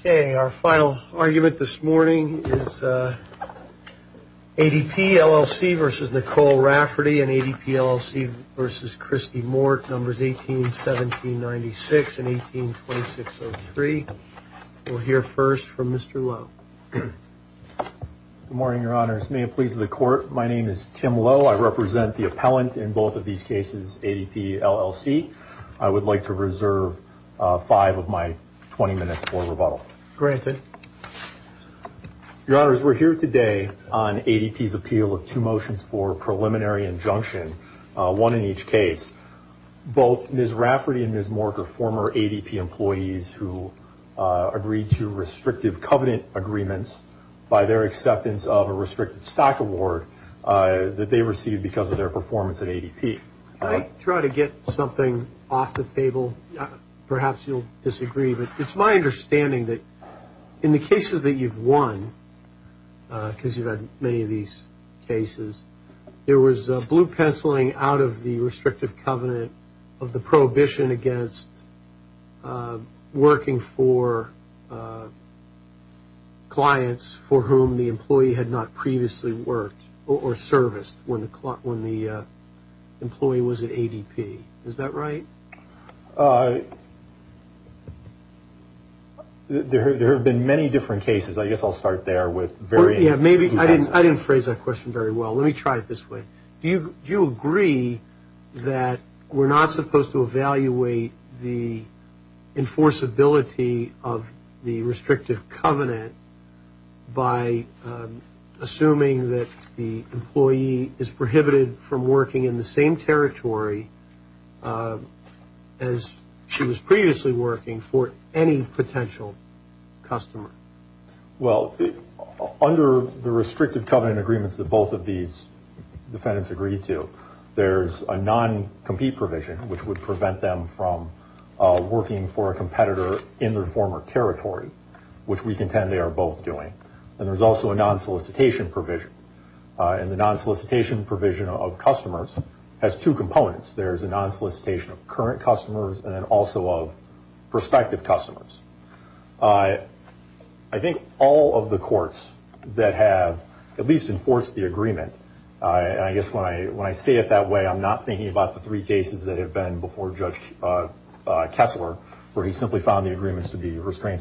Okay, our final argument this morning is ADPLLC v. Nicole Rafferty and ADPLLC v. Christy Mort, numbers 181796 and 182603. We'll hear first from Mr. Lowe. Good morning, Your Honors. May it please the Court. My name is Tim Lowe. I represent the appellant in both of these cases, ADPLLC. I would like to reserve five of my 20 minutes for rebuttal. Your Honors, we're here today on ADP's appeal of two motions for preliminary injunction, one in each case. Both Ms. Rafferty and Ms. Mort are former ADP employees who agreed to restrictive covenant agreements by their acceptance of a restricted stock award that they received because of their performance at ADP. I try to get something off the table. Perhaps you'll disagree, but it's my understanding that in the cases that you've won, because you've had many of these cases, there was blue penciling out of the restrictive covenant of the prohibition against working for clients for whom the employee had not previously worked or serviced when the employee was at ADP. Is that right? There have been many different cases. I guess I'll start there. I didn't phrase that question very well. Let me try it this way. Do you agree that we're not supposed to evaluate the enforceability of the restrictive covenant by assuming that the employee is prohibited from working in the same territory as she was previously working for any potential customer? Well, under the restrictive covenant agreements that both of these defendants agreed to, there's a non-compete provision which would prevent them from working for a competitor in their former territory, which we contend they are both doing. There's also a non-solicitation provision. The non-solicitation provision of customers has two components. There's a non-solicitation of current customers and then also of prospective customers. I think all of the courts that have at least enforced the agreement, I guess when I say it that way, I'm not thinking about the three clients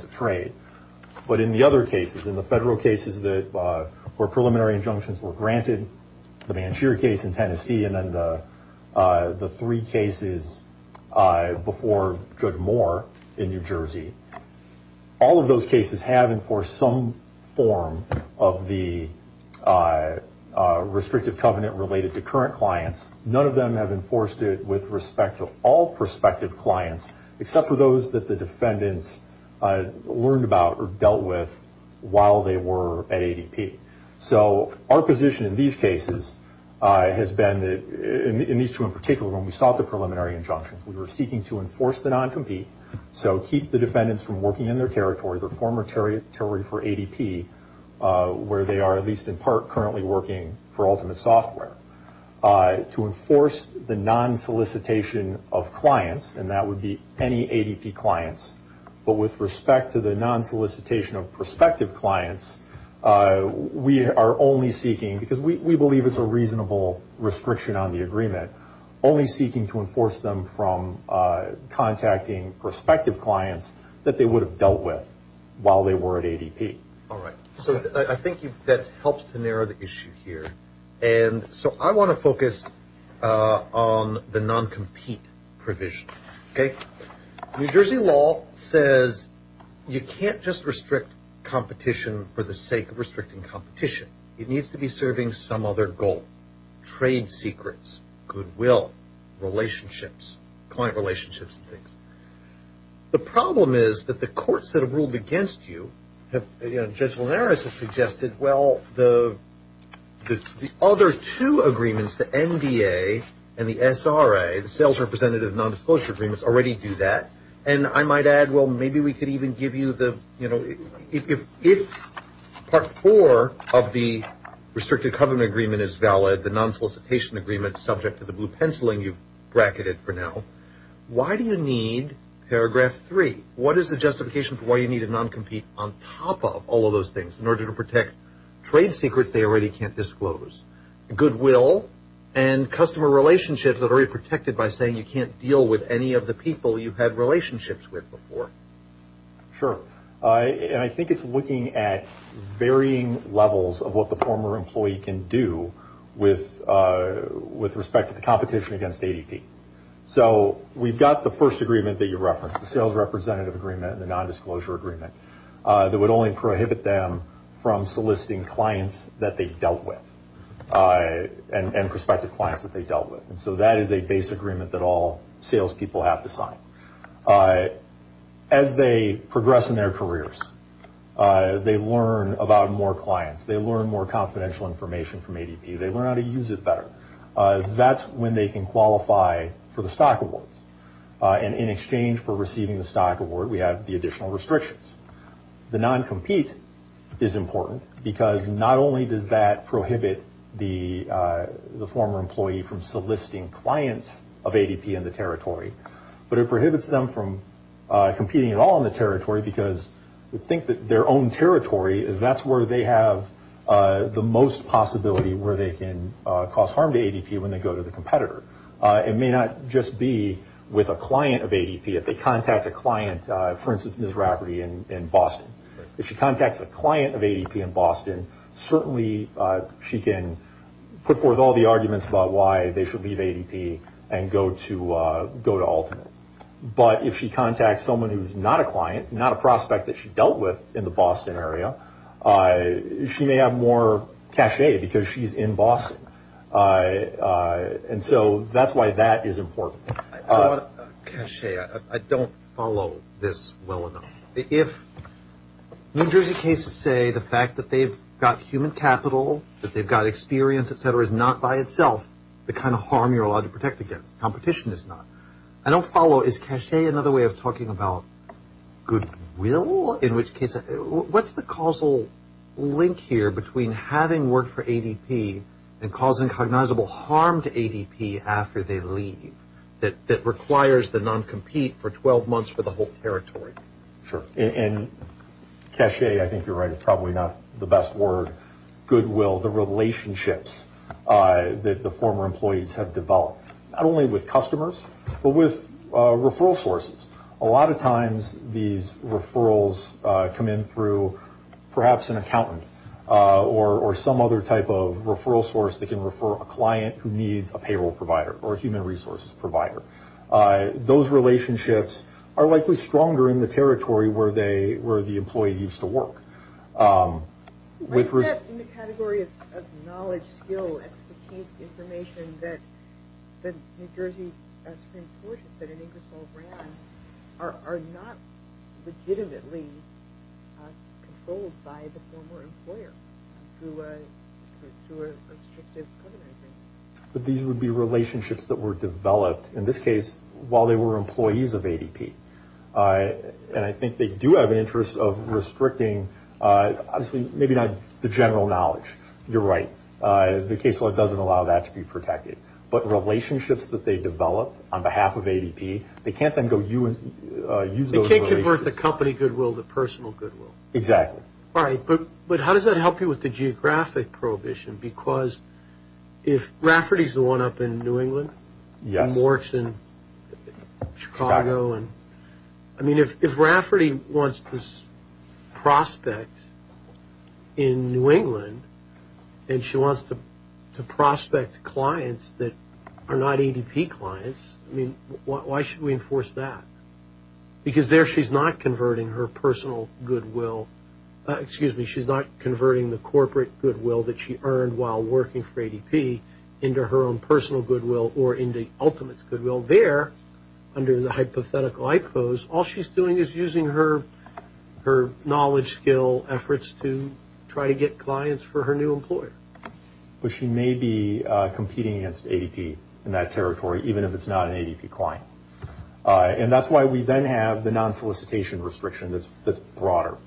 of trade. But in the other cases, in the federal cases where preliminary injunctions were granted, the Bansheer case in Tennessee and then the three cases before Judge Moore in New Jersey, all of those cases have enforced some form of the restrictive covenant related to current clients. None of them have enforced it with respect to all prospective clients, except for those that the defendants learned about or dealt with while they were at ADP. So our position in these cases has been that, in these two in particular, when we sought the preliminary injunctions, we were seeking to enforce the non-compete, so keep the defendants from working in their territory, their former territory for ADP, where they are at least in part currently working for ADP clients. But with respect to the non-solicitation of prospective clients, we are only seeking, because we believe it's a reasonable restriction on the agreement, only seeking to enforce them from contacting prospective clients that they would have dealt with while they were at ADP. All right. So I think that helps to narrow the issue here. And so I want to focus on the non-compete provision. New Jersey law says you can't just restrict competition for the sake of restricting competition. It needs to be serving some other goal, trade secrets, goodwill, relationships, client relationships and things. The problem is the courts that have ruled against you, Judge Linares has suggested, well, the other two agreements, the NDA and the SRA, the Sales Representative Non-Disclosure Agreements, already do that. And I might add, well, maybe we could even give you the, you know, if Part 4 of the Restricted Covenant Agreement is valid, the non-solicitation agreement subject to the blue non-compete on top of all of those things in order to protect trade secrets they already can't disclose, goodwill and customer relationships that are protected by saying you can't deal with any of the people you've had relationships with before. Sure. And I think it's looking at varying levels of what the former employee can do with respect to the competition against ADP. So we've got the first agreement that you referenced, the Sales Representative Agreement and the Non-Disclosure Agreement that would only prohibit them from soliciting clients that they've dealt with and prospective clients that they've dealt with. And so that is a base agreement that all salespeople have to sign. As they progress in their careers, they learn about more clients, they learn more confidential information from ADP, they learn how to use it better. That's when they can qualify for the stock awards. And in exchange for receiving the stock award, we have the additional restrictions. The non-compete is important because not only does that prohibit the former employee from soliciting clients of ADP in the territory, but it prohibits them from competing at all in the territory because they think that their own ADP when they go to the competitor. It may not just be with a client of ADP if they contact a client, for instance, Ms. Rafferty in Boston. If she contacts a client of ADP in Boston, certainly she can put forth all the arguments about why they should leave ADP and go to Ultimate. But if she contacts someone who's not a client, not a prospect that she dealt with in the Boston area, she may have more cachet because she's in Boston. And so that's why that is important. Cachet, I don't follow this well enough. If New Jersey cases say the fact that they've got human capital, that they've got experience, etc., is not by itself the kind of harm you're allowed to protect against. Competition is not. I don't follow. Is cachet another way of talking about goodwill? In which case, what's the causal link here between having worked for ADP and causing cognizable harm to ADP after they leave that requires the non-compete for 12 months for the whole territory? Sure. And cachet, I think you're right, is probably not the best word. Goodwill, the relationships that the former employees have developed, not only with customers, but with referral sources. A lot of times these referrals come in through perhaps an accountant or some other type of referral source that can refer a client who needs a payroll provider or a human resources provider. Those relationships are likely stronger in the territory where the employee used to work. Why is that in the category of knowledge, skill, expertise, information that New Jersey Supreme Court has said in Ingersoll ran are not legitimately controlled by the former employer through a restrictive covenant? But these would be relationships that were developed, in this case, while they were restricting, maybe not the general knowledge. You're right. The case law doesn't allow that to be protected. But relationships that they developed on behalf of ADP, they can't then go use those relationships. They can't convert the company goodwill to personal goodwill. Exactly. All right. But how does that help you with the geographic prohibition? Because if Rafferty's the one up in New England, and Mork's in Chicago. I mean, if Rafferty wants to prospect in New England, and she wants to prospect clients that are not ADP clients, I mean, why should we enforce that? Because there she's not converting her personal goodwill. Excuse me. She's not converting the corporate goodwill that she earned while working for ADP into her own personal goodwill or into ultimate goodwill. There, under the hypothetical IPOs, all she's doing is using her knowledge, skill, efforts to try to get clients for her new employer. But she may be competing against ADP in that territory, even if it's not an ADP client. And that's why we then have the non-solicitation restriction that's broader.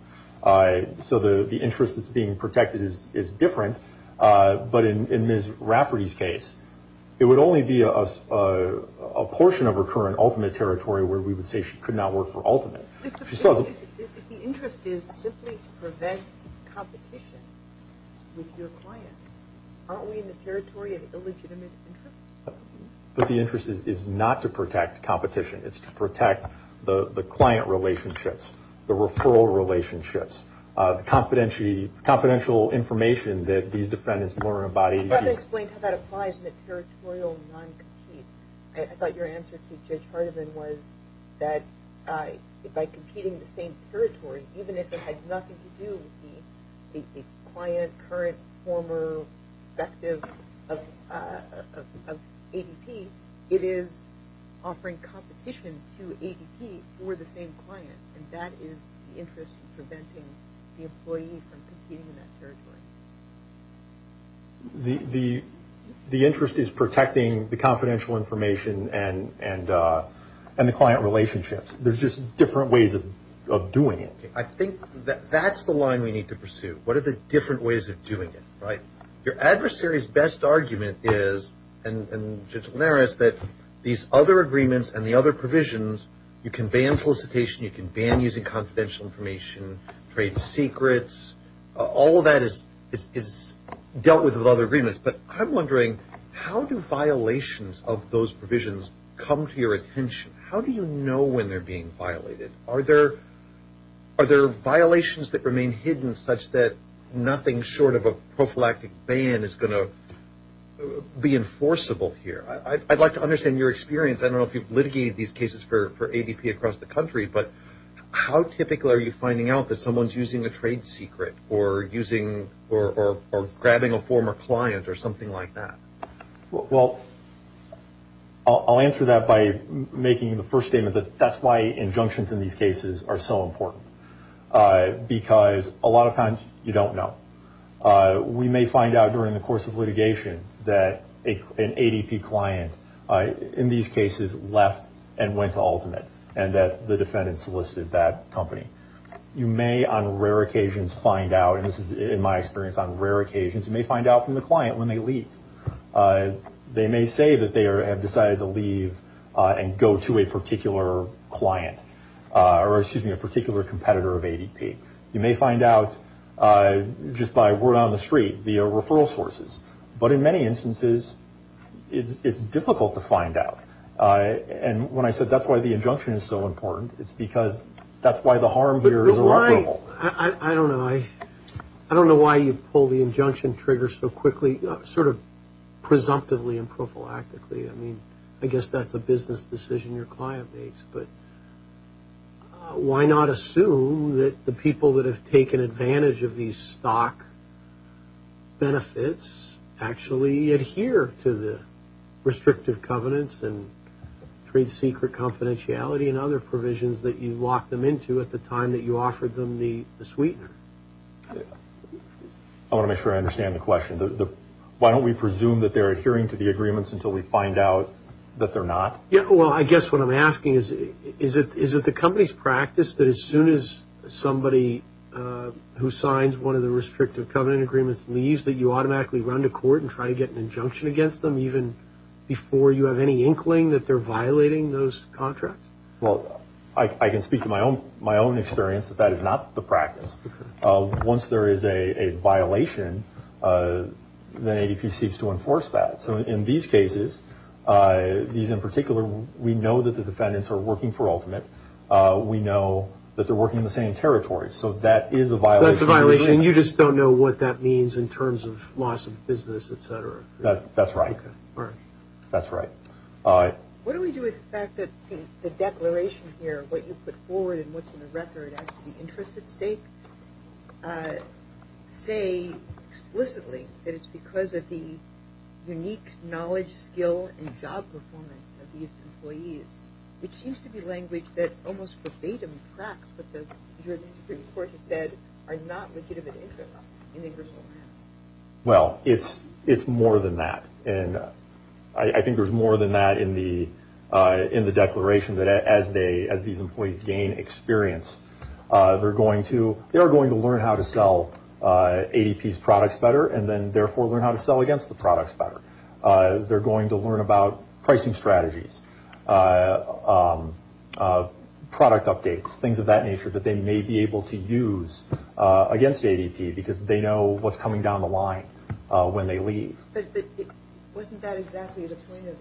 So the interest that's being protected is different. But in Ms. Rafferty's case, it would only be a portion of her current ultimate territory where we would say she could not work for ultimate. If the interest is simply to prevent competition with your client, aren't we in the territory of illegitimate interest? But the interest is not to protect competition. It's to protect the client relationships, the referral relationships, the confidential information that these defendants learn about ADP. I forgot to explain how that applies in a territorial non-compete. I thought your answer to Judge Hardiman was that by competing in the same territory, even if it had nothing to do with the client, current, former perspective of ADP, it is offering competition to ADP for the same client. And that is the interest in preventing the employee from competing in that territory. The interest is protecting the confidential information and the client relationships. There's just different ways of doing it. I think that's the line we need to pursue. What are the different ways of doing it, right? Your adversary's best argument is, and Judge Linares, that these other agreements and the other provisions, you can ban solicitation, you can ban using confidential information, trade secrets. All of that is dealt with with other agreements. I'm wondering, how do violations of those provisions come to your attention? How do you know when they're being violated? Are there violations that remain hidden such that nothing short of a prophylactic ban is going to be enforceable here? I'd like to understand your experience. I don't know if you've litigated these cases for ADP across the country, but how typical are you finding out that someone's using a client or something like that? Well, I'll answer that by making the first statement that that's why injunctions in these cases are so important, because a lot of times you don't know. We may find out during the course of litigation that an ADP client in these cases left and went to Ultimate, and that the defendant solicited that company. You may on rare occasions find out, and this when they leave. They may say that they have decided to leave and go to a particular client or, excuse me, a particular competitor of ADP. You may find out just by word on the street via referral sources. But in many instances, it's difficult to find out. And when I said that's why the injunction is so important, it's because that's why the harm here is irreparable. I don't know. I don't know why you pull the injunction trigger so quickly, sort of presumptively and prophylactically. I mean, I guess that's a business decision your client makes. But why not assume that the people that have taken advantage of these stock benefits actually adhere to the restrictive covenants and trade secret confidentiality and other provisions that you locked them into at the time that you offered them the sweetener? I want to make sure I understand the question. Why don't we presume that they're adhering to the agreements until we find out that they're not? Yeah. Well, I guess what I'm asking is, is it the company's practice that as soon as somebody who signs one of the restrictive covenant agreements leaves that you automatically run to court and try to get an injunction against them even before you have any inkling that they're violating those contracts? Well, I can speak to my own experience that that is not the practice. Once there is a violation, then ADP seeks to enforce that. So in these cases, these in particular, we know that the defendants are working for Ultimate. We know that they're working in the same territory. So that is a violation. So that's a violation and you just don't know what that means in terms of loss of business, et cetera? That's right. That's right. What do we do with the fact that the declaration here, what you put forward and what's in the record as to the interest at stake, say explicitly that it's because of the unique knowledge, skill, and job performance of these employees, which seems to be language that almost verbatim tracks what the Supreme Court has said are not legitimate interests in that in the declaration that as these employees gain experience, they're going to learn how to sell ADP's products better and then therefore learn how to sell against the products better. They're going to learn about pricing strategies, product updates, things of that nature that they may be able to use against ADP because they know what's coming down the line when they leave. But wasn't that exactly the point of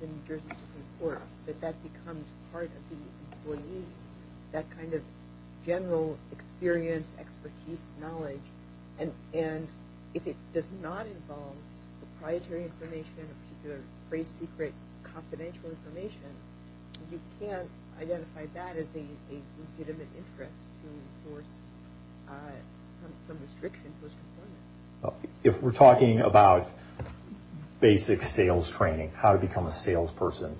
the New Jersey Supreme Court, that that becomes part of the employee, that kind of general experience, expertise, knowledge, and if it does not involve proprietary information or particular great secret confidential information, you can't identify that as a legitimate interest to enforce some restriction to those components? If we're talking about basic sales training, how to become a salesperson,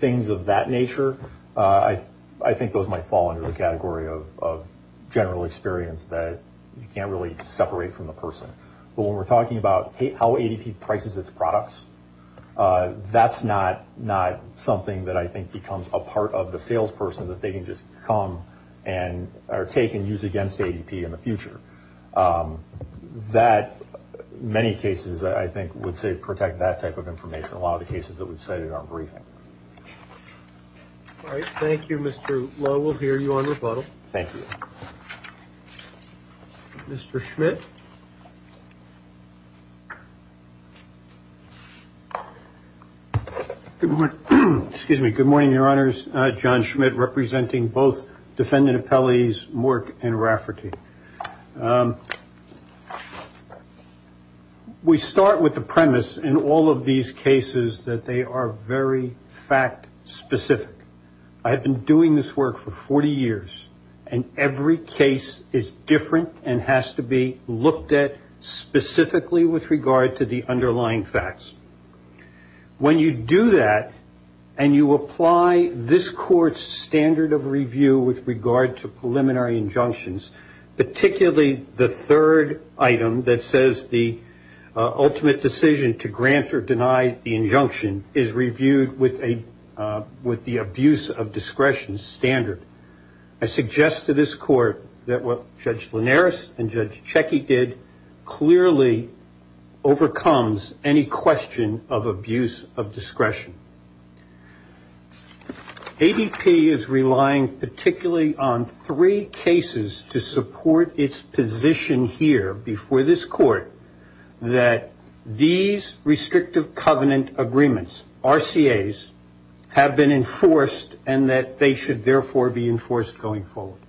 things of that nature, I think those might fall under the category of general experience that you can't really separate from the person. But when we're talking about how ADP prices its products, that's not something that I think becomes a part of the salesperson that they can just come and take and use against ADP in the future. That, many cases I think would say protect that type of information, a lot of the cases that we've cited are briefing. All right. Thank you, Mr. Lowe. We'll hear you on rebuttal. Thank you. Mr. Schmidt. Good morning, Your Honors. John Schmidt, representing both defendant appellees Mork and Rafferty. We start with the premise in all of these cases that they are very fact specific. I specifically with regard to the underlying facts. When you do that and you apply this court's standard of review with regard to preliminary injunctions, particularly the third item that says the ultimate decision to grant or deny the injunction is reviewed with the abuse of discretion standard. I suggest to this court that what Judge Linares and Judge Checkey did clearly overcomes any question of abuse of discretion. ADP is relying particularly on three cases to support its position here before this court that these restrictive covenant agreements, RCAs, have been enforced and that they should therefore be enforced going forward.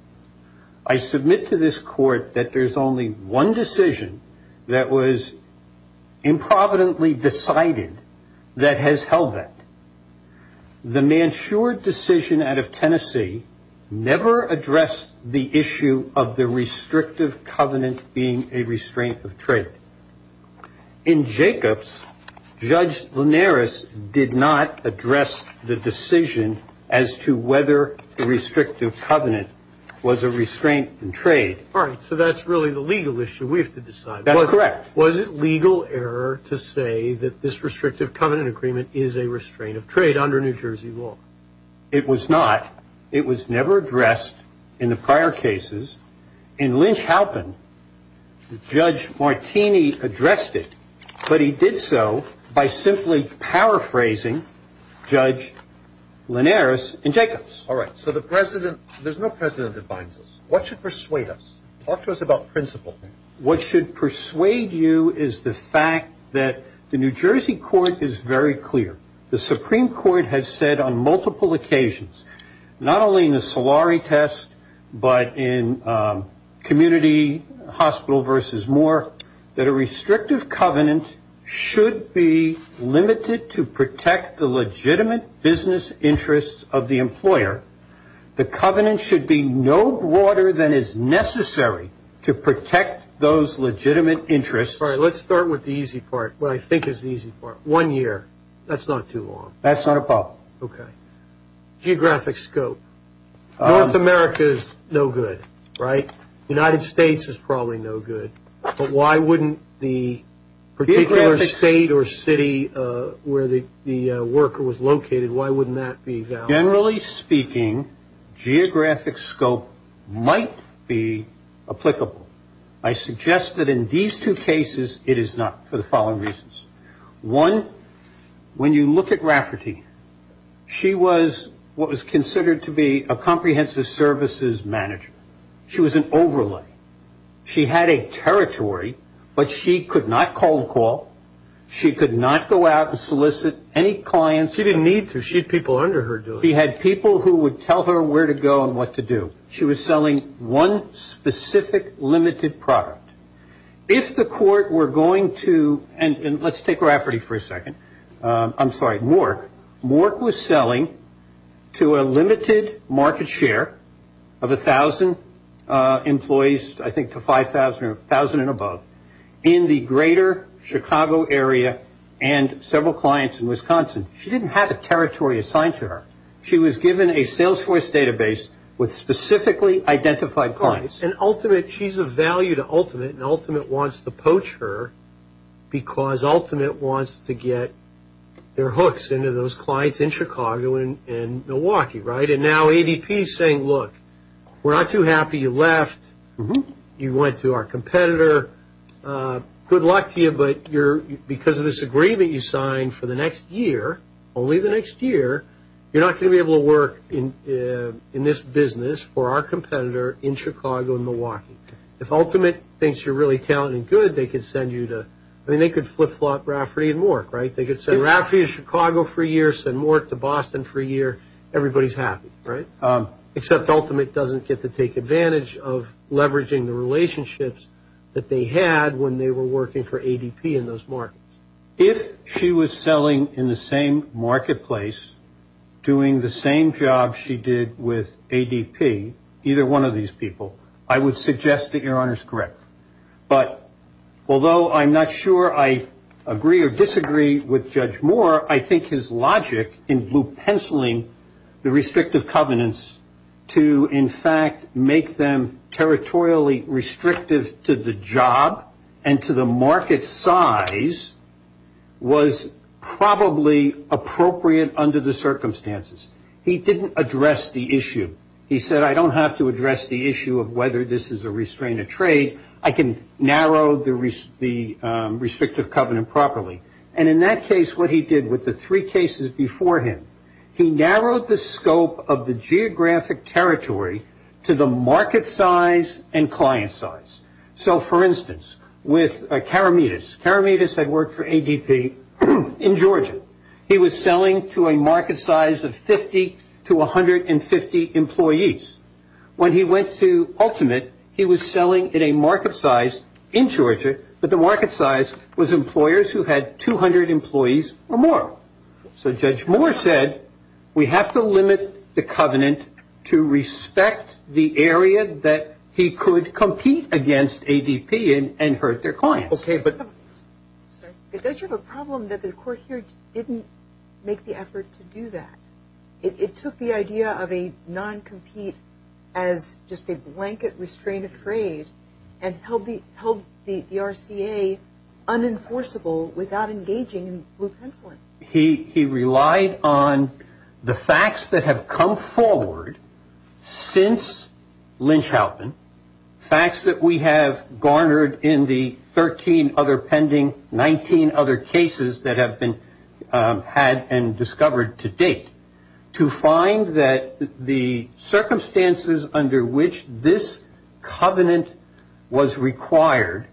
I submit to this court that there's only one decision that was improvidently decided that has held that. The Mansure decision out of Tennessee never addressed the issue of the restrictive covenant being a restraint of trade. In Jacobs, Judge Linares did not address the decision as to whether the restrictive covenant was a restraint in trade. All right, so that's really the legal issue we have to decide. That's correct. Was it legal error to say that this restrictive covenant agreement is a restraint of trade under New Jersey law? It was not. It was never addressed in the prior cases. In Lynch-Halpin, Judge Martini addressed it, but he did so by simply paraphrasing Judge Linares in Jacobs. All right, so the president, there's no president that binds us. What should persuade us? Talk to us about principle. What should persuade you is the fact that the New Jersey court is very clear. The Supreme Court has said on multiple occasions, not only in the Solari test, but in community hospital versus more, that a restrictive covenant should be limited to protect the legitimate business interests of the employer. The covenant should be no broader than is necessary to protect those legitimate interests. All right, let's start with the easy part, what I think is the easy part. One year. That's not a problem. Okay. Geographic scope. North America is no good, right? United States is probably no good, but why wouldn't the particular state or city where the worker was located, why wouldn't that be valid? Generally speaking, geographic scope might be applicable. I suggest that in these two cases, it is not for the following reasons. One, when you look at Rafferty, she was what was considered to be a comprehensive services manager. She was an overlay. She had a territory, but she could not call the call. She could not go out and solicit any clients. She didn't need to. She had people under her doing it. She had people who would tell her where to go and what to do. She was selling one specific limited product. If the court were going to, and let's take Rafferty for a second. I'm sorry, Mork. Mork was selling to a limited market share of 1,000 employees, I think to 5,000 or 1,000 and above, in the greater Chicago area and several clients in Wisconsin. She didn't have a territory assigned to her. She was given a Salesforce database with specifically identified clients. Ultimate, she's a value to Ultimate, and Ultimate wants to poach her because Ultimate wants to get their hooks into those clients in Chicago and Milwaukee. Now, ADP is saying, look, we're not too happy you left. You went to our competitor. Good luck to you, but because of this agreement you signed for the next year, only the next year, you're not going to be able to work in this business for our competitor in Chicago and Milwaukee. If Ultimate thinks you're really talented and good, they could flip-flop Rafferty and Mork. They could say, Rafferty is Chicago for a year. Send Mork to Boston for a year. Everybody's happy, except Ultimate doesn't get to take advantage of leveraging the relationships that they had when they were working for ADP in those markets. If she was selling in the same marketplace, doing the same job she did with ADP, either one of these people, I would suggest that Your Honor is correct. But although I'm not sure I agree or disagree with Judge Moore, I think his logic in blue-penciling the restrictive covenants to, in fact, make them territorially restrictive to the job and to the market size was probably appropriate under the circumstances. He didn't address the issue. He said, I don't have to address the issue of whether this is a restraint of trade. I can narrow the restrictive covenant properly. In that case, what he did with the three cases before him, he narrowed the scope of the geographic territory to the market size and client size. So, for instance, with Karameetis, Karameetis had worked for ADP in Georgia. He was selling to a market size of 50 to 150 employees. When he went to Ultimate, he was selling at a market size in Georgia, but the market size was employers who had 200 employees or more. So Judge Moore said, we have to limit the covenant to respect the area that he could compete against ADP and hurt their clients. Okay, but... But don't you have a problem that the court here didn't make the effort to do that? It took the idea of a non-compete as just a blanket restraint of trade and held the RCA unenforceable without engaging in blue penciling. He relied on the facts that have come forward since Lynch-Halpin, facts that we have garnered in the 13 other pending, 19 other cases that have been had and discovered to date, to find that the circumstances under which this covenant was required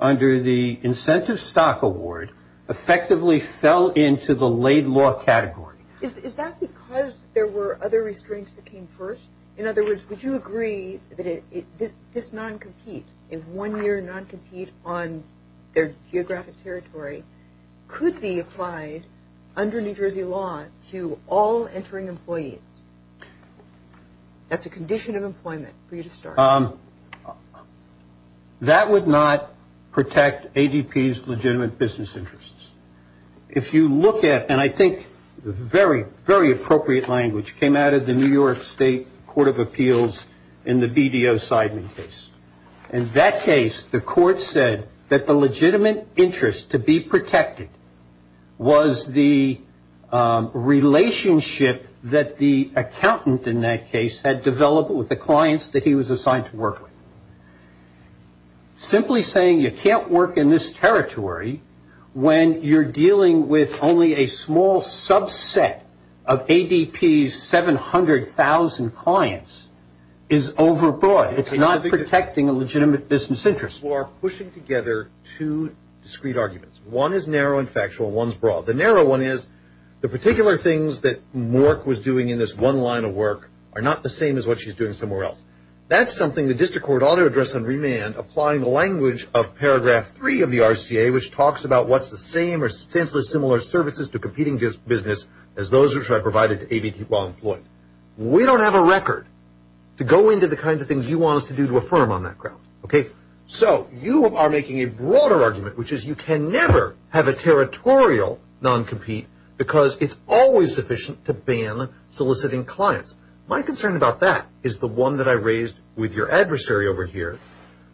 under the Incentive Stock Award effectively fell into the laid law category. Is that because there were other restraints that came first? In other words, would you agree that this non-compete, a one-year non-compete on their geographic territory could be applied under New Jersey law to all entering employees? That's a condition of employment for you to start. That would not protect ADP's legitimate business interests. If you look at, and I think very, very appropriate language came out of the New York State Court of Appeals in the BDO Sideman case. In that case, the court said that the legitimate interest to be protected was the relationship that the accountant in that case had developed with the clients that he was assigned to work with. Simply saying you can't work in this territory when you're dealing with only a small subset of ADP's 700,000 clients is overbroad. It's not protecting a legitimate business interest. You are pushing together two discreet arguments. One is narrow and factual. One's broad. The narrow one is the particular things that Mork was doing in this one line of work are not the same as what she's doing somewhere else. That's something the district court ought to address on remand, applying the language of paragraph three of the RCA, which talks about what's the same or similar services to competing business as those which are provided to ADP while employed. We don't have a record to go into the kinds of things you want us to do to affirm on that ground. You are making a broader argument, which is you can never have a territorial non-compete because it's always sufficient to ban soliciting clients. My concern about that is the one that I raised with your adversary over here,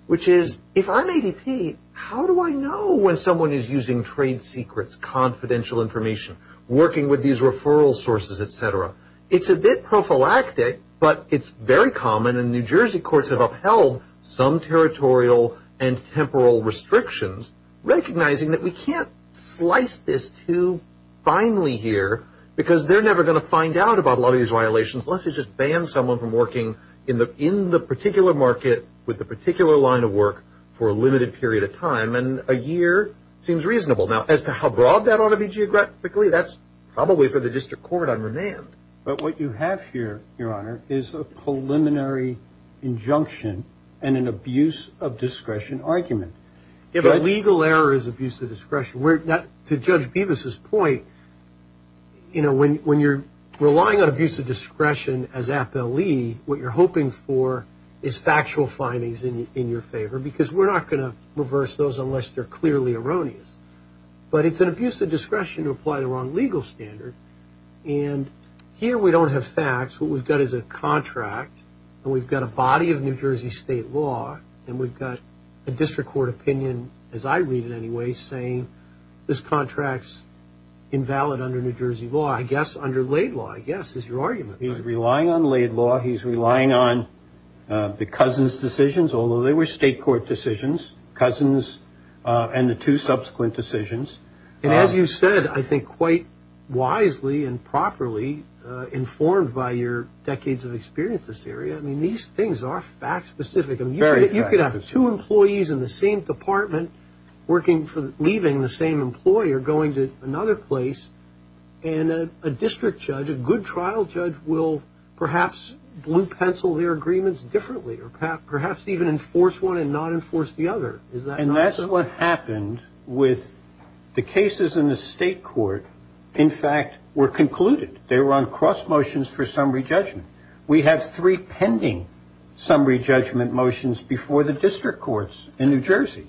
which is if I'm ADP, how do I know when someone is using trade secrets, confidential information, working with these referral sources, et cetera? It's a bit prophylactic, but it's very common and New Jersey courts have upheld some territorial and temporal restrictions, recognizing that we can't slice this too finely here because they're never going to find out about a lot of these violations unless you just ban someone from working in the particular market with the particular line of work for a limited period of time. A year seems reasonable. As to how broad that ought to be geographically, that's probably for the district court on remand. What you have here, Your Honor, is a preliminary injunction and an abuse of discretion argument. A legal error is abuse of discretion. To Judge Bevis' point, when you're relying on abuse of discretion as appellee, what you're hoping for is factual findings in your favor because we're not going to reverse those unless they're clearly erroneous. It's an abuse of discretion to apply the wrong legal standard. Here we don't have facts. What we've got is a contract and we've got a body of New Jersey state law and we've got a district court opinion, as I read it anyway, saying this contract's invalid under New Jersey law. I guess under laid law, I guess, is your argument. He's relying on laid law. He's relying on the Cousins decisions, although they were state decisions, Cousins and the two subsequent decisions. As you said, I think quite wisely and properly informed by your decades of experience in this area, these things are fact specific. You could have two employees in the same department leaving the same employer going to another place and a district judge, a good trial judge, will perhaps blue pencil their case and not enforce the other. And that's what happened with the cases in the state court, in fact, were concluded. They were on cross motions for summary judgment. We have three pending summary judgment motions before the district courts in New Jersey.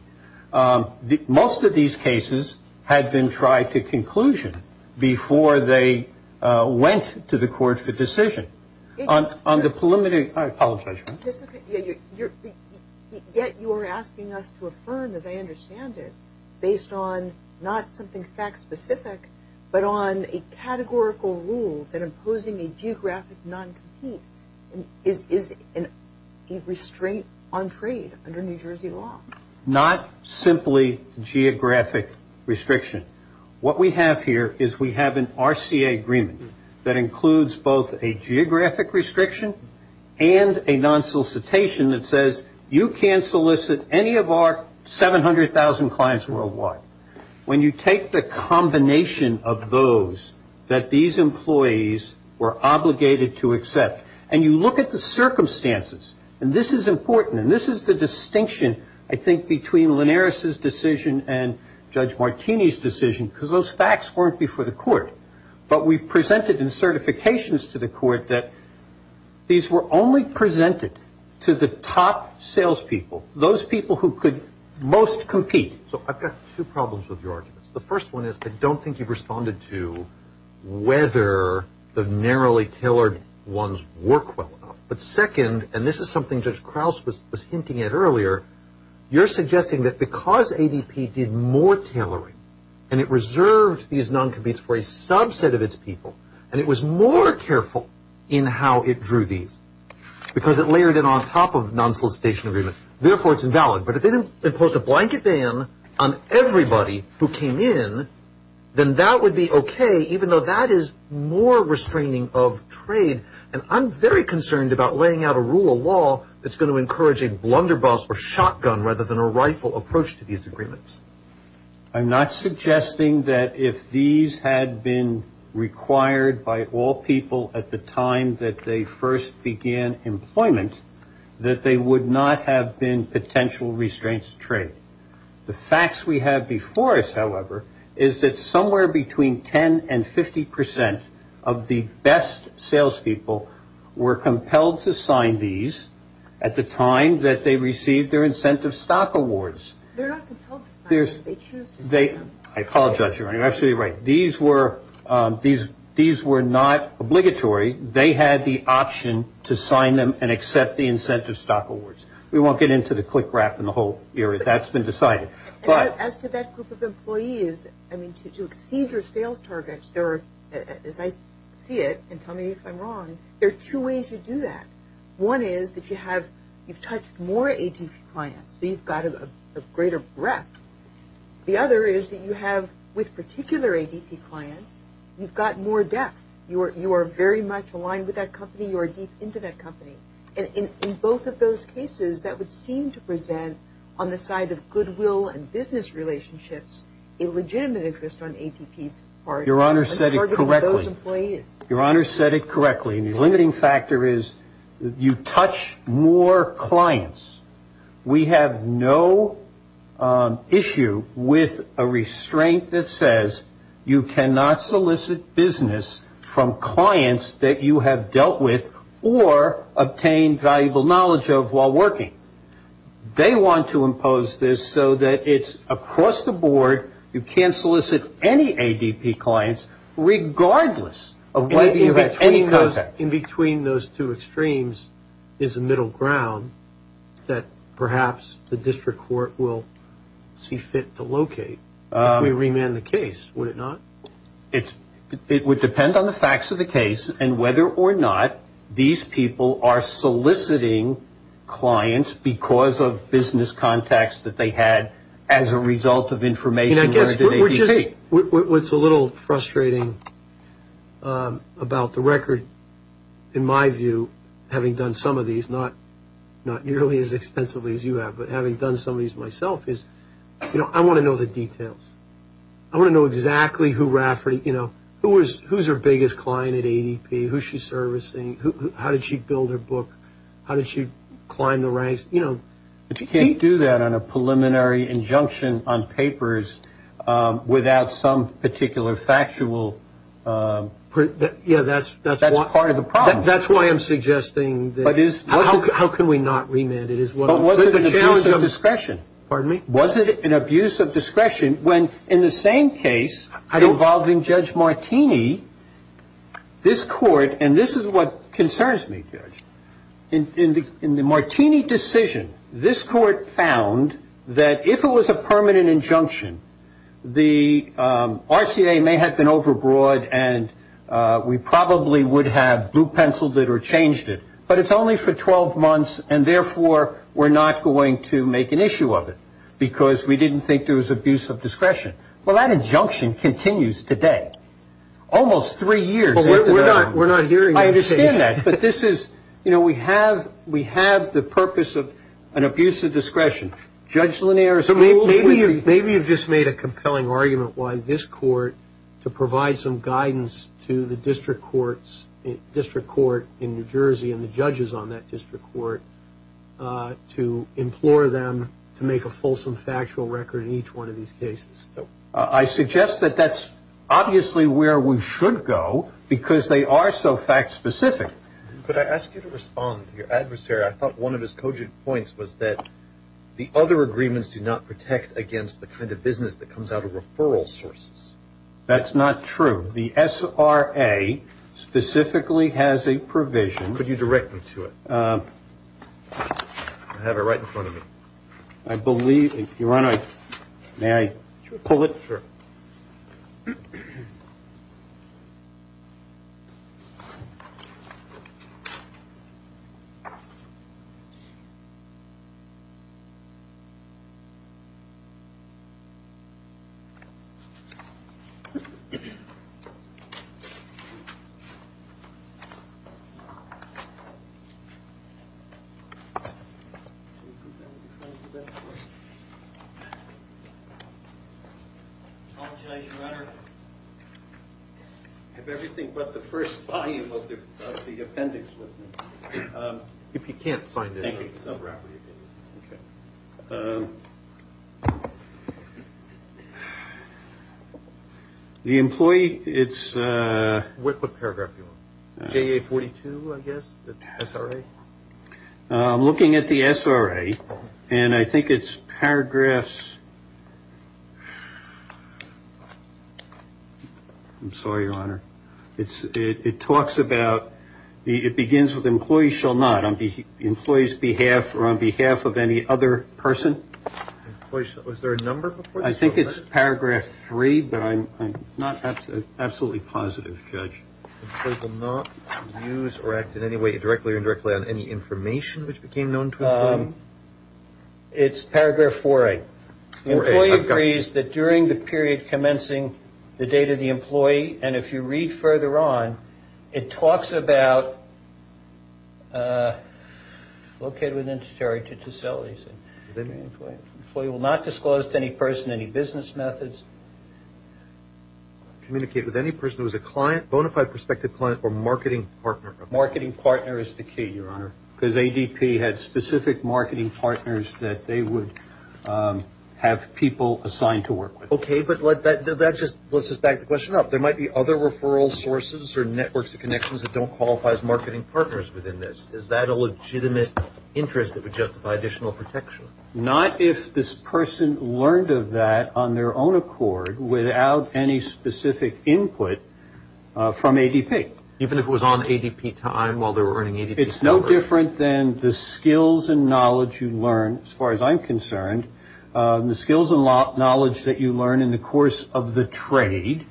Most of these cases had been tried to conclusion before they went to the court for decision. On the preliminary I apologize. Yet you are asking us to affirm, as I understand it, based on not something fact specific, but on a categorical rule that imposing a geographic non-compete is a restraint on trade under New Jersey law. Not simply geographic restriction. What we have here is we have an RCA agreement that includes both a geographic restriction and a non-solicitation that says you can't solicit any of our 700,000 clients worldwide. When you take the combination of those that these employees were obligated to accept, and you look at the circumstances, and this is important, and this is the distinction, I think, between Linares' decision and Judge Martini's decision, because those facts weren't before the court, but we presented in certifications to the court that these were only presented to the top salespeople, those people who could most compete. So I've got two problems with your arguments. The first one is I don't think you've responded to whether the narrowly tailored ones work well enough. But second, and this is something Judge Krauss was hinting at earlier, you're narrowly tailoring, and it reserved these non-competes for a subset of its people, and it was more careful in how it drew these, because it layered it on top of non-solicitation agreements. Therefore, it's invalid. But if they imposed a blanket ban on everybody who came in, then that would be okay, even though that is more restraining of trade, and I'm very concerned about laying out a rule of law that's going to encourage a blunderbuss or shotgun rather than a rifle approach to these agreements. I'm not suggesting that if these had been required by all people at the time that they first began employment, that they would not have been potential restraints of trade. The facts we have before us, however, is that somewhere between 10 and 50 percent of the best salespeople were compelled to sign these at the time that they received their Incentive Stock Awards. They're not compelled to sign them. They choose to sign them. I apologize, Your Honor. You're absolutely right. These were not obligatory. They had the option to sign them and accept the Incentive Stock Awards. We won't get into the click rap in the whole area. That's been decided. As to that group of employees, to exceed your sales targets, as I see it, and tell me if I'm wrong, there are two ways you do that. One is that you've touched more ADP clients, so you've got a greater breadth. The other is that you have, with particular ADP clients, you've got more depth. You are very much aligned with that company. You are deep into that and business relationships, a legitimate interest on ADP's part. Your Honor said it correctly. I'm targeting those employees. Your Honor said it correctly. The limiting factor is you touch more clients. We have no issue with a restraint that says you cannot solicit business from clients that you have dealt with or obtained valuable knowledge of while working. They want to impose this so that it's across the board. You can't solicit any ADP clients regardless of whether you have any contact. In between those two extremes is a middle ground that perhaps the district court will see fit to locate if we remand the case, would it not? It would depend on the facts of the case and whether or not these people are soliciting clients because of business contacts that they had as a result of information. What's a little frustrating about the record, in my view, having done some of these, not nearly as extensively as you have, but having done some of these myself, is I want to know the details. I want to know exactly who Rafferty, who's her biggest client at ADP, who she's working with. But you can't do that on a preliminary injunction on papers without some particular factual proof. Yeah, that's part of the problem. That's why I'm suggesting that how can we not remand it is what the challenge of discretion. Was it an abuse of discretion when in the same case involving Judge Martini, this court, and this is what concerns me, Judge, in the Martini decision, this court found that if it was a permanent injunction, the RCA may have been overbroad and we probably would have blue penciled it or changed it, but it's only for 12 months and therefore we're not going to make an issue of it because we didn't think there was abuse of discretion. Well, that injunction continues today, almost three years after that. We're not hearing that. I understand that. But this is, you know, we have the purpose of an abuse of discretion. Judge Lanier has ruled with it. Maybe you've just made a compelling argument why this court, to provide some guidance to the district courts, district court in New Jersey and the judges on that district court, to implore them to make a fulsome factual record in each one of these cases. I suggest that that's obviously where we should go because they are so fact-specific. Could I ask you to respond to your adversary? I thought one of his cogent points was that the other agreements do not protect against the kind of business that comes out of referral sources. That's not true. The SRA specifically has a provision. Could you direct me to it? I have it right in front of me. I believe, if you want to, may I pull it? Sure. I have everything but the first volume of the appendix with me. If you can't find it, I'll wrap it up for you. The employee, it's... What paragraph are you on? The SRA? I'm looking at the SRA and I think it's paragraphs... I'm sorry, your honor. It talks about... It begins with employees shall not, on the employee's behalf or on behalf of any other person. Employees shall... Was there a number before this? Employee will not use or act in any way directly or indirectly on any information which became known to the employee? It's paragraph 4A. 4A. I've got it. The employee agrees that during the period commencing the date of the employee, and if you read further on, it talks about... Located within the territory to facilities. Employee will not disclose to any person any business methods. Communicate with any person who is a client, bona fide prospective client, or marketing partner. Marketing partner is the key, your honor, because ADP had specific marketing partners that they would have people assigned to work with. Okay, but let's just back the question up. There might be other referral sources or networks of connections that don't qualify as marketing partners within this. Is that a legitimate interest that would justify additional protection? Not if this person learned of that on their own accord without any specific input from ADP. Even if it was on ADP time while they were earning ADP salary? It's no different than the skills and knowledge you learn, as far as I'm concerned, the skills and knowledge that you learn in the course of the trade,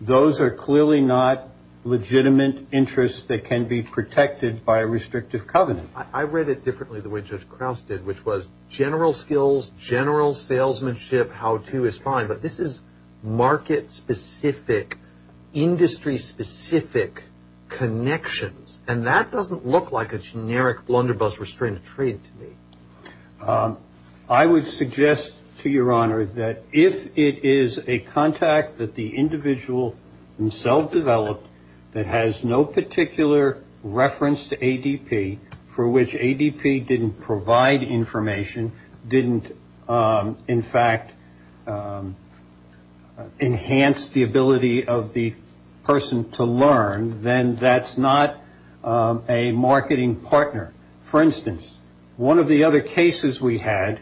those are clearly not legitimate interests that can be protected by a restrictive covenant. I read it differently the way Judge Krause did, which was general skills, general salesmanship, how to is fine, but this is market specific, industry specific connections, and that doesn't look like a generic blunderbuss restrained trade to me. I would suggest, to your honor, that if it is a contact that the individual himself developed that has no particular reference to ADP, for which ADP didn't provide information, didn't in fact enhance the ability of the person to learn, then that's not a marketing partner. For instance, one of the other cases we had,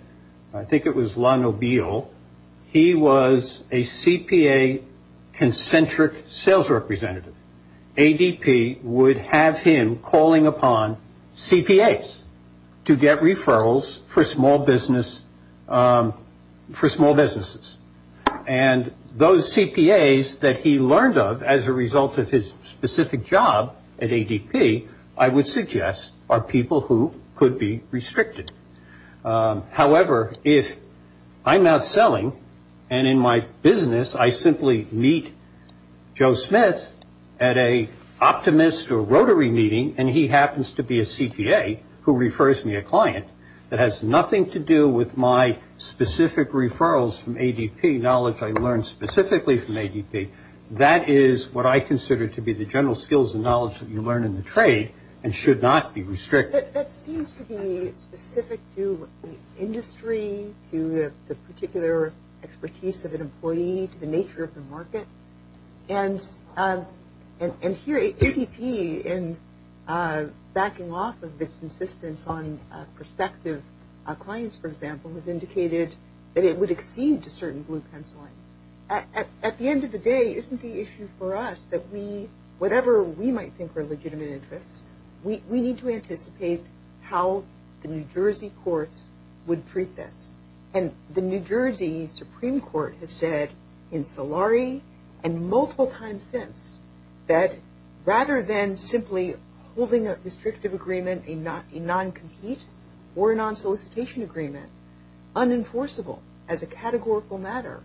I think it was La Nobile, he was a CPA concentric sales representative. ADP would have him calling upon CPAs to get referrals for small business, for small businesses. And those CPAs that he learned of as a result of his specific job at ADP, I would suggest are people who could be restricted. However, if I'm out selling and in my business I simply meet Joe Smith at a optimist or rotary meeting and he happens to be a CPA who refers me a client that has nothing to do with my specific referrals from ADP, knowledge I learned specifically from ADP, that is what I consider to be the general skills and knowledge that you learn in the trade and should not be restricted. That seems to be specific to industry, to the particular expertise of an employee, to the nature of the market. And here ADP in backing off of its insistence on prospective clients, for example, has indicated that it would accede to certain blue pencil lines. At the end of the day, isn't the issue for us that we, whatever we might think are legitimate interests, we need to anticipate how the New Jersey courts would treat this. And the New Jersey Supreme Court has said in Solari and multiple times since that rather than simply holding a restrictive agreement, a non-compete or a non-solicitation agreement, unenforceable as a categorical matter,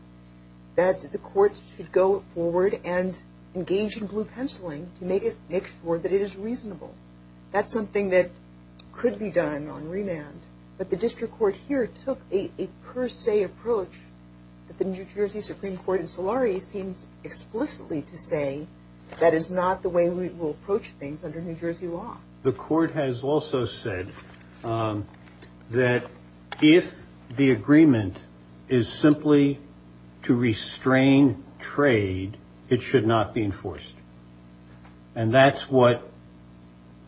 that the courts should go forward and engage in reasonable. That's something that could be done on remand, but the district court here took a per se approach that the New Jersey Supreme Court in Solari seems explicitly to say that is not the way we will approach things under New Jersey law. The court has also said that if the agreement is simply to restrain trade, it should not be enforced. And that's what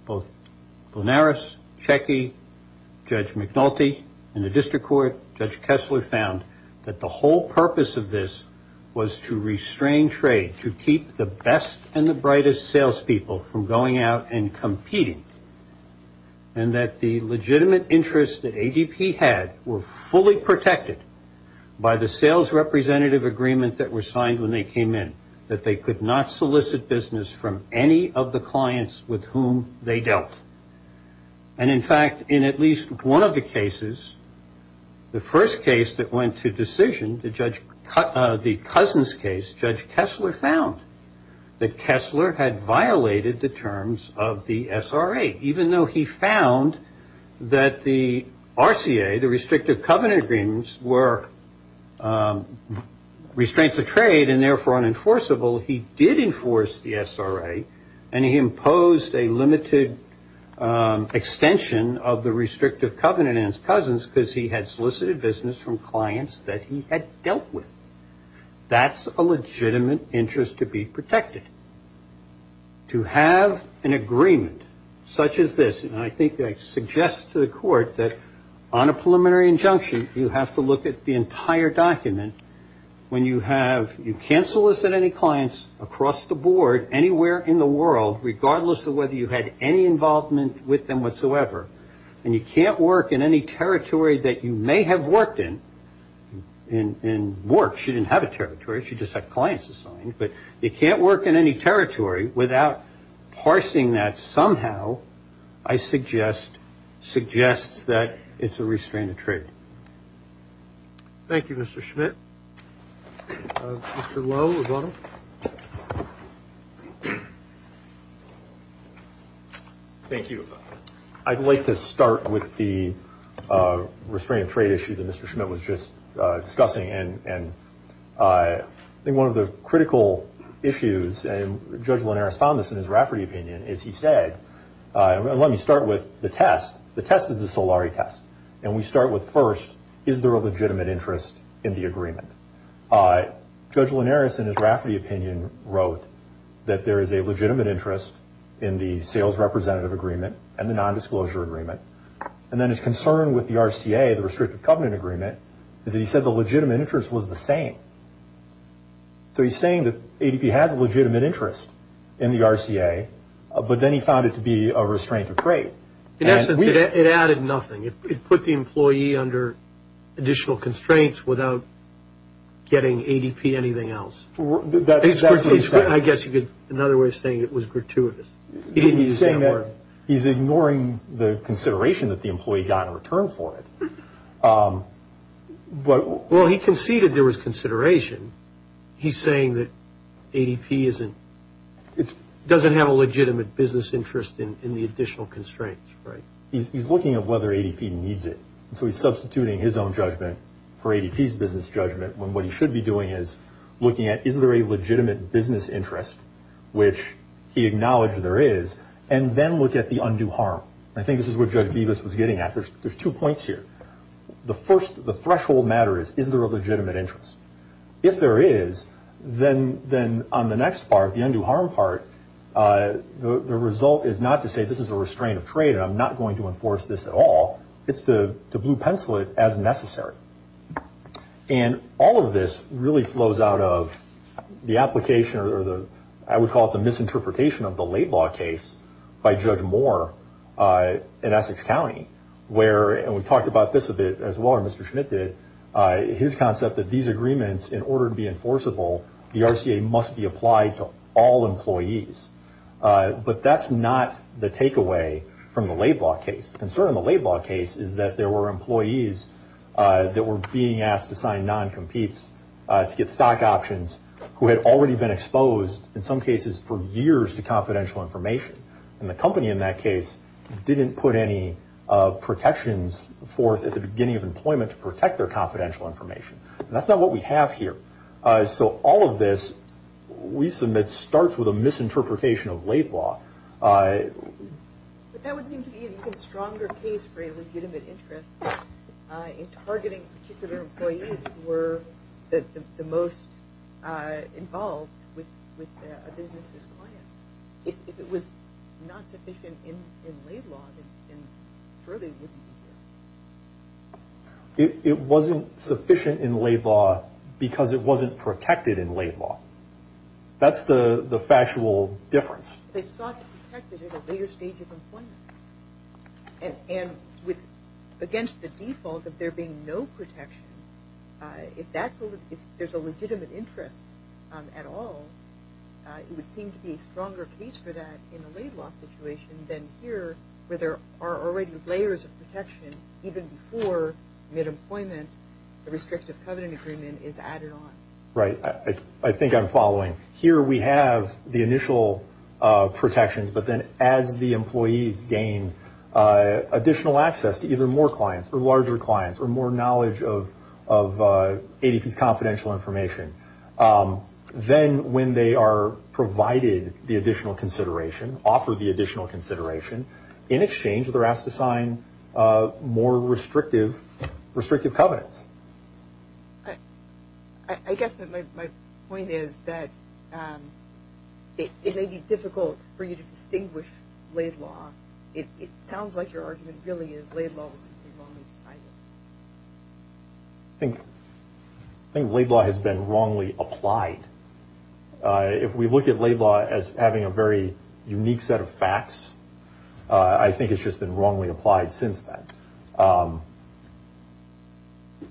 both Linares, Checky, Judge McNulty in the district court, Judge Kessler found that the whole purpose of this was to restrain trade, to keep the best and the brightest sales people from going out and competing. And that the legitimate interests that ADP had were fully protected by the sales representative agreement that was signed when they came in. That they could not solicit business from any of the clients with whom they dealt. And in fact, in at least one of the cases, the first case that went to decision, the Cousins case, Judge Kessler found that Kessler had violated the terms of the SRA, even though he found that the RCA, the Restrictive Covenant Agreements, were restraints of trade and therefore unenforceable, he did enforce the SRA and he imposed a limited extension of the Restrictive Covenant in his cousins because he had solicited business from clients that he had dealt with. That's a legitimate interest to be protected. And to have an agreement such as this, and I think I suggest to the court that on a preliminary injunction you have to look at the entire document when you have, you can't solicit any clients across the board, anywhere in the world, regardless of whether you had any involvement with them whatsoever, and you can't work in any territory that you may have worked in, in works, you didn't have a territory, you just had clients assigned, but you can't work in any territory without parsing that somehow, I suggest, suggests that it's a restraint of trade. Thank you, Mr. Schmidt. Mr. Lowe, we've got him. Thank you. I'd like to start with the restraint of trade issue that Mr. Schmidt was just discussing and I think one of the critical issues, and Judge Linares found this in his Rafferty opinion, is he said, and let me start with the test, the test is the Solari test, and we start with first, is there a legitimate interest in the agreement? Judge Linares in his Rafferty opinion wrote that there is a legitimate interest in the sales representative agreement and the nondisclosure agreement, and then his concern with the RCA, the Restricted Covenant Agreement, is that he said the legitimate interest was the same. So he's saying that ADP has a legitimate interest in the RCA, but then he found it to be a restraint of trade. In essence, it added nothing. It put the employee under additional constraints without getting ADP anything else. That's what he's saying. I guess another way of saying it was gratuitous. He's saying that he's ignoring the consideration that the employee got in return for it. Well, he conceded there was consideration. He's saying that ADP doesn't have a legitimate business interest in the additional constraints. He's looking at whether ADP needs it, so he's substituting his own judgment for ADP's business judgment, when what he should be doing is looking at is there a legitimate business interest, which he acknowledged there is, and then look at the undue harm. I think this is what Judge Bevis was getting at. There's two points here. The first, the threshold matter is, is there a legitimate interest? If there is, then on the next part, the undue harm part, the result is not to say this is a restraint of trade, and I'm not going to enforce this at all. It's to blue pencil it as necessary. All of this really flows out of the application, or I would call it the misinterpretation of the Laid Law case by Judge Moore in Essex County, where, and we talked about this a bit as well, or Mr. Schmidt did, his concept that these agreements, in order to be enforceable, the RCA must be applied to all employees. But that's not the takeaway from the Laid Law case. The concern in the Laid Law case is that there were employees that were being asked to sign non-competes to get stock options who had already been exposed, in some cases, for years to confidential information. And the company in that case didn't put any protections forth at the beginning of employment to protect their confidential information. And that's not what we have here. So all of this, we submit, starts with a misinterpretation of Laid Law. But that would seem to be an even stronger case for a legitimate interest in targeting particular employees who were the most involved with a business's clients. If it was not sufficient in Laid Law, then certainly it wouldn't be here. It wasn't sufficient in Laid Law because it wasn't protected in Laid Law. That's the factual difference. They sought to protect it at a later stage of employment. And against the default of there being no protection, if there's a legitimate interest at all, it would seem to be a stronger case for that in a Laid Law situation than here, where there are already layers of protection even before mid-employment, the restrictive covenant agreement is added on. Right. I think I'm following. Here we have the initial protections, but then as the employees gain additional access to either more clients or larger clients or more knowledge of ADP's confidential information, then when they are provided the additional consideration, offered the additional consideration, in exchange they're asked to sign more restrictive covenants. I guess my point is that it may be difficult for you to distinguish Laid Law. It sounds like your argument really is Laid Law was wrongly decided. I think Laid Law has been wrongly applied. If we look at Laid Law as having a very unique set of facts, I think it's just been wrongly applied since then.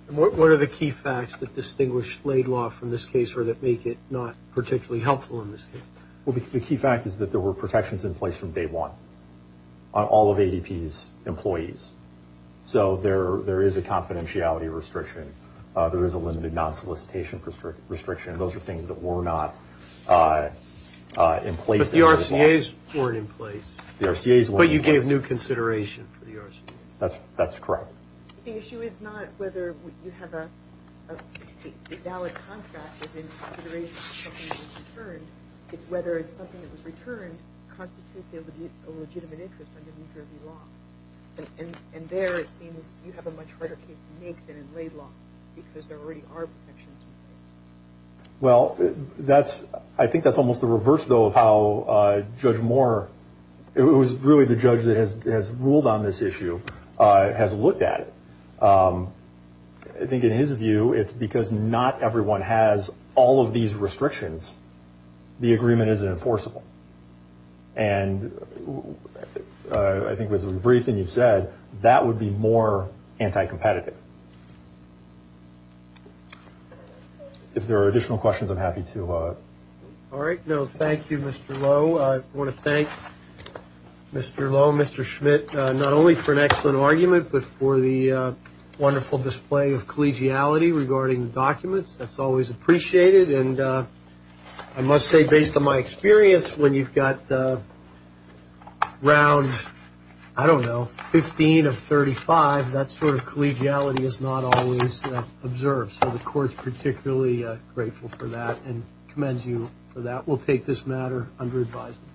And what are the key facts that distinguish Laid Law from this case or that make it not particularly helpful in this case? Well, the key fact is that there were protections in place from day one on all of ADP's employees. So there is a confidentiality restriction. There is a limited non-solicitation restriction. Those are things that were not in place. But the RCAs weren't in place. The RCAs weren't in place. But you gave new consideration for the RCAs. That's correct. The issue is not whether you have a valid contract within consideration of something that was returned. It's whether something that was returned constitutes a legitimate interest under New Jersey law. And there it seems you have a much harder case to make than in Laid Law because there already are protections. Well, I think that's almost the reverse, though, of how Judge Moore, who is really the judge that has ruled on this issue, has looked at it. I think in his view, it's because not everyone has all of these restrictions. The agreement isn't enforceable. And I think with the briefing you've said, that would be more anti-competitive. If there are additional questions, I'm happy to. All right. Thank you, Mr. Lowe. I want to thank Mr. Lowe, Mr. Schmidt, not only for an excellent argument, but for the wonderful display of collegiality regarding the documents. That's always appreciated. And I must say, based on my experience, when you've got round, I don't know, 15 of 35, that sort of collegiality is not always observed. So the court's particularly grateful for that and commends you for that. We'll take this matter under advisement.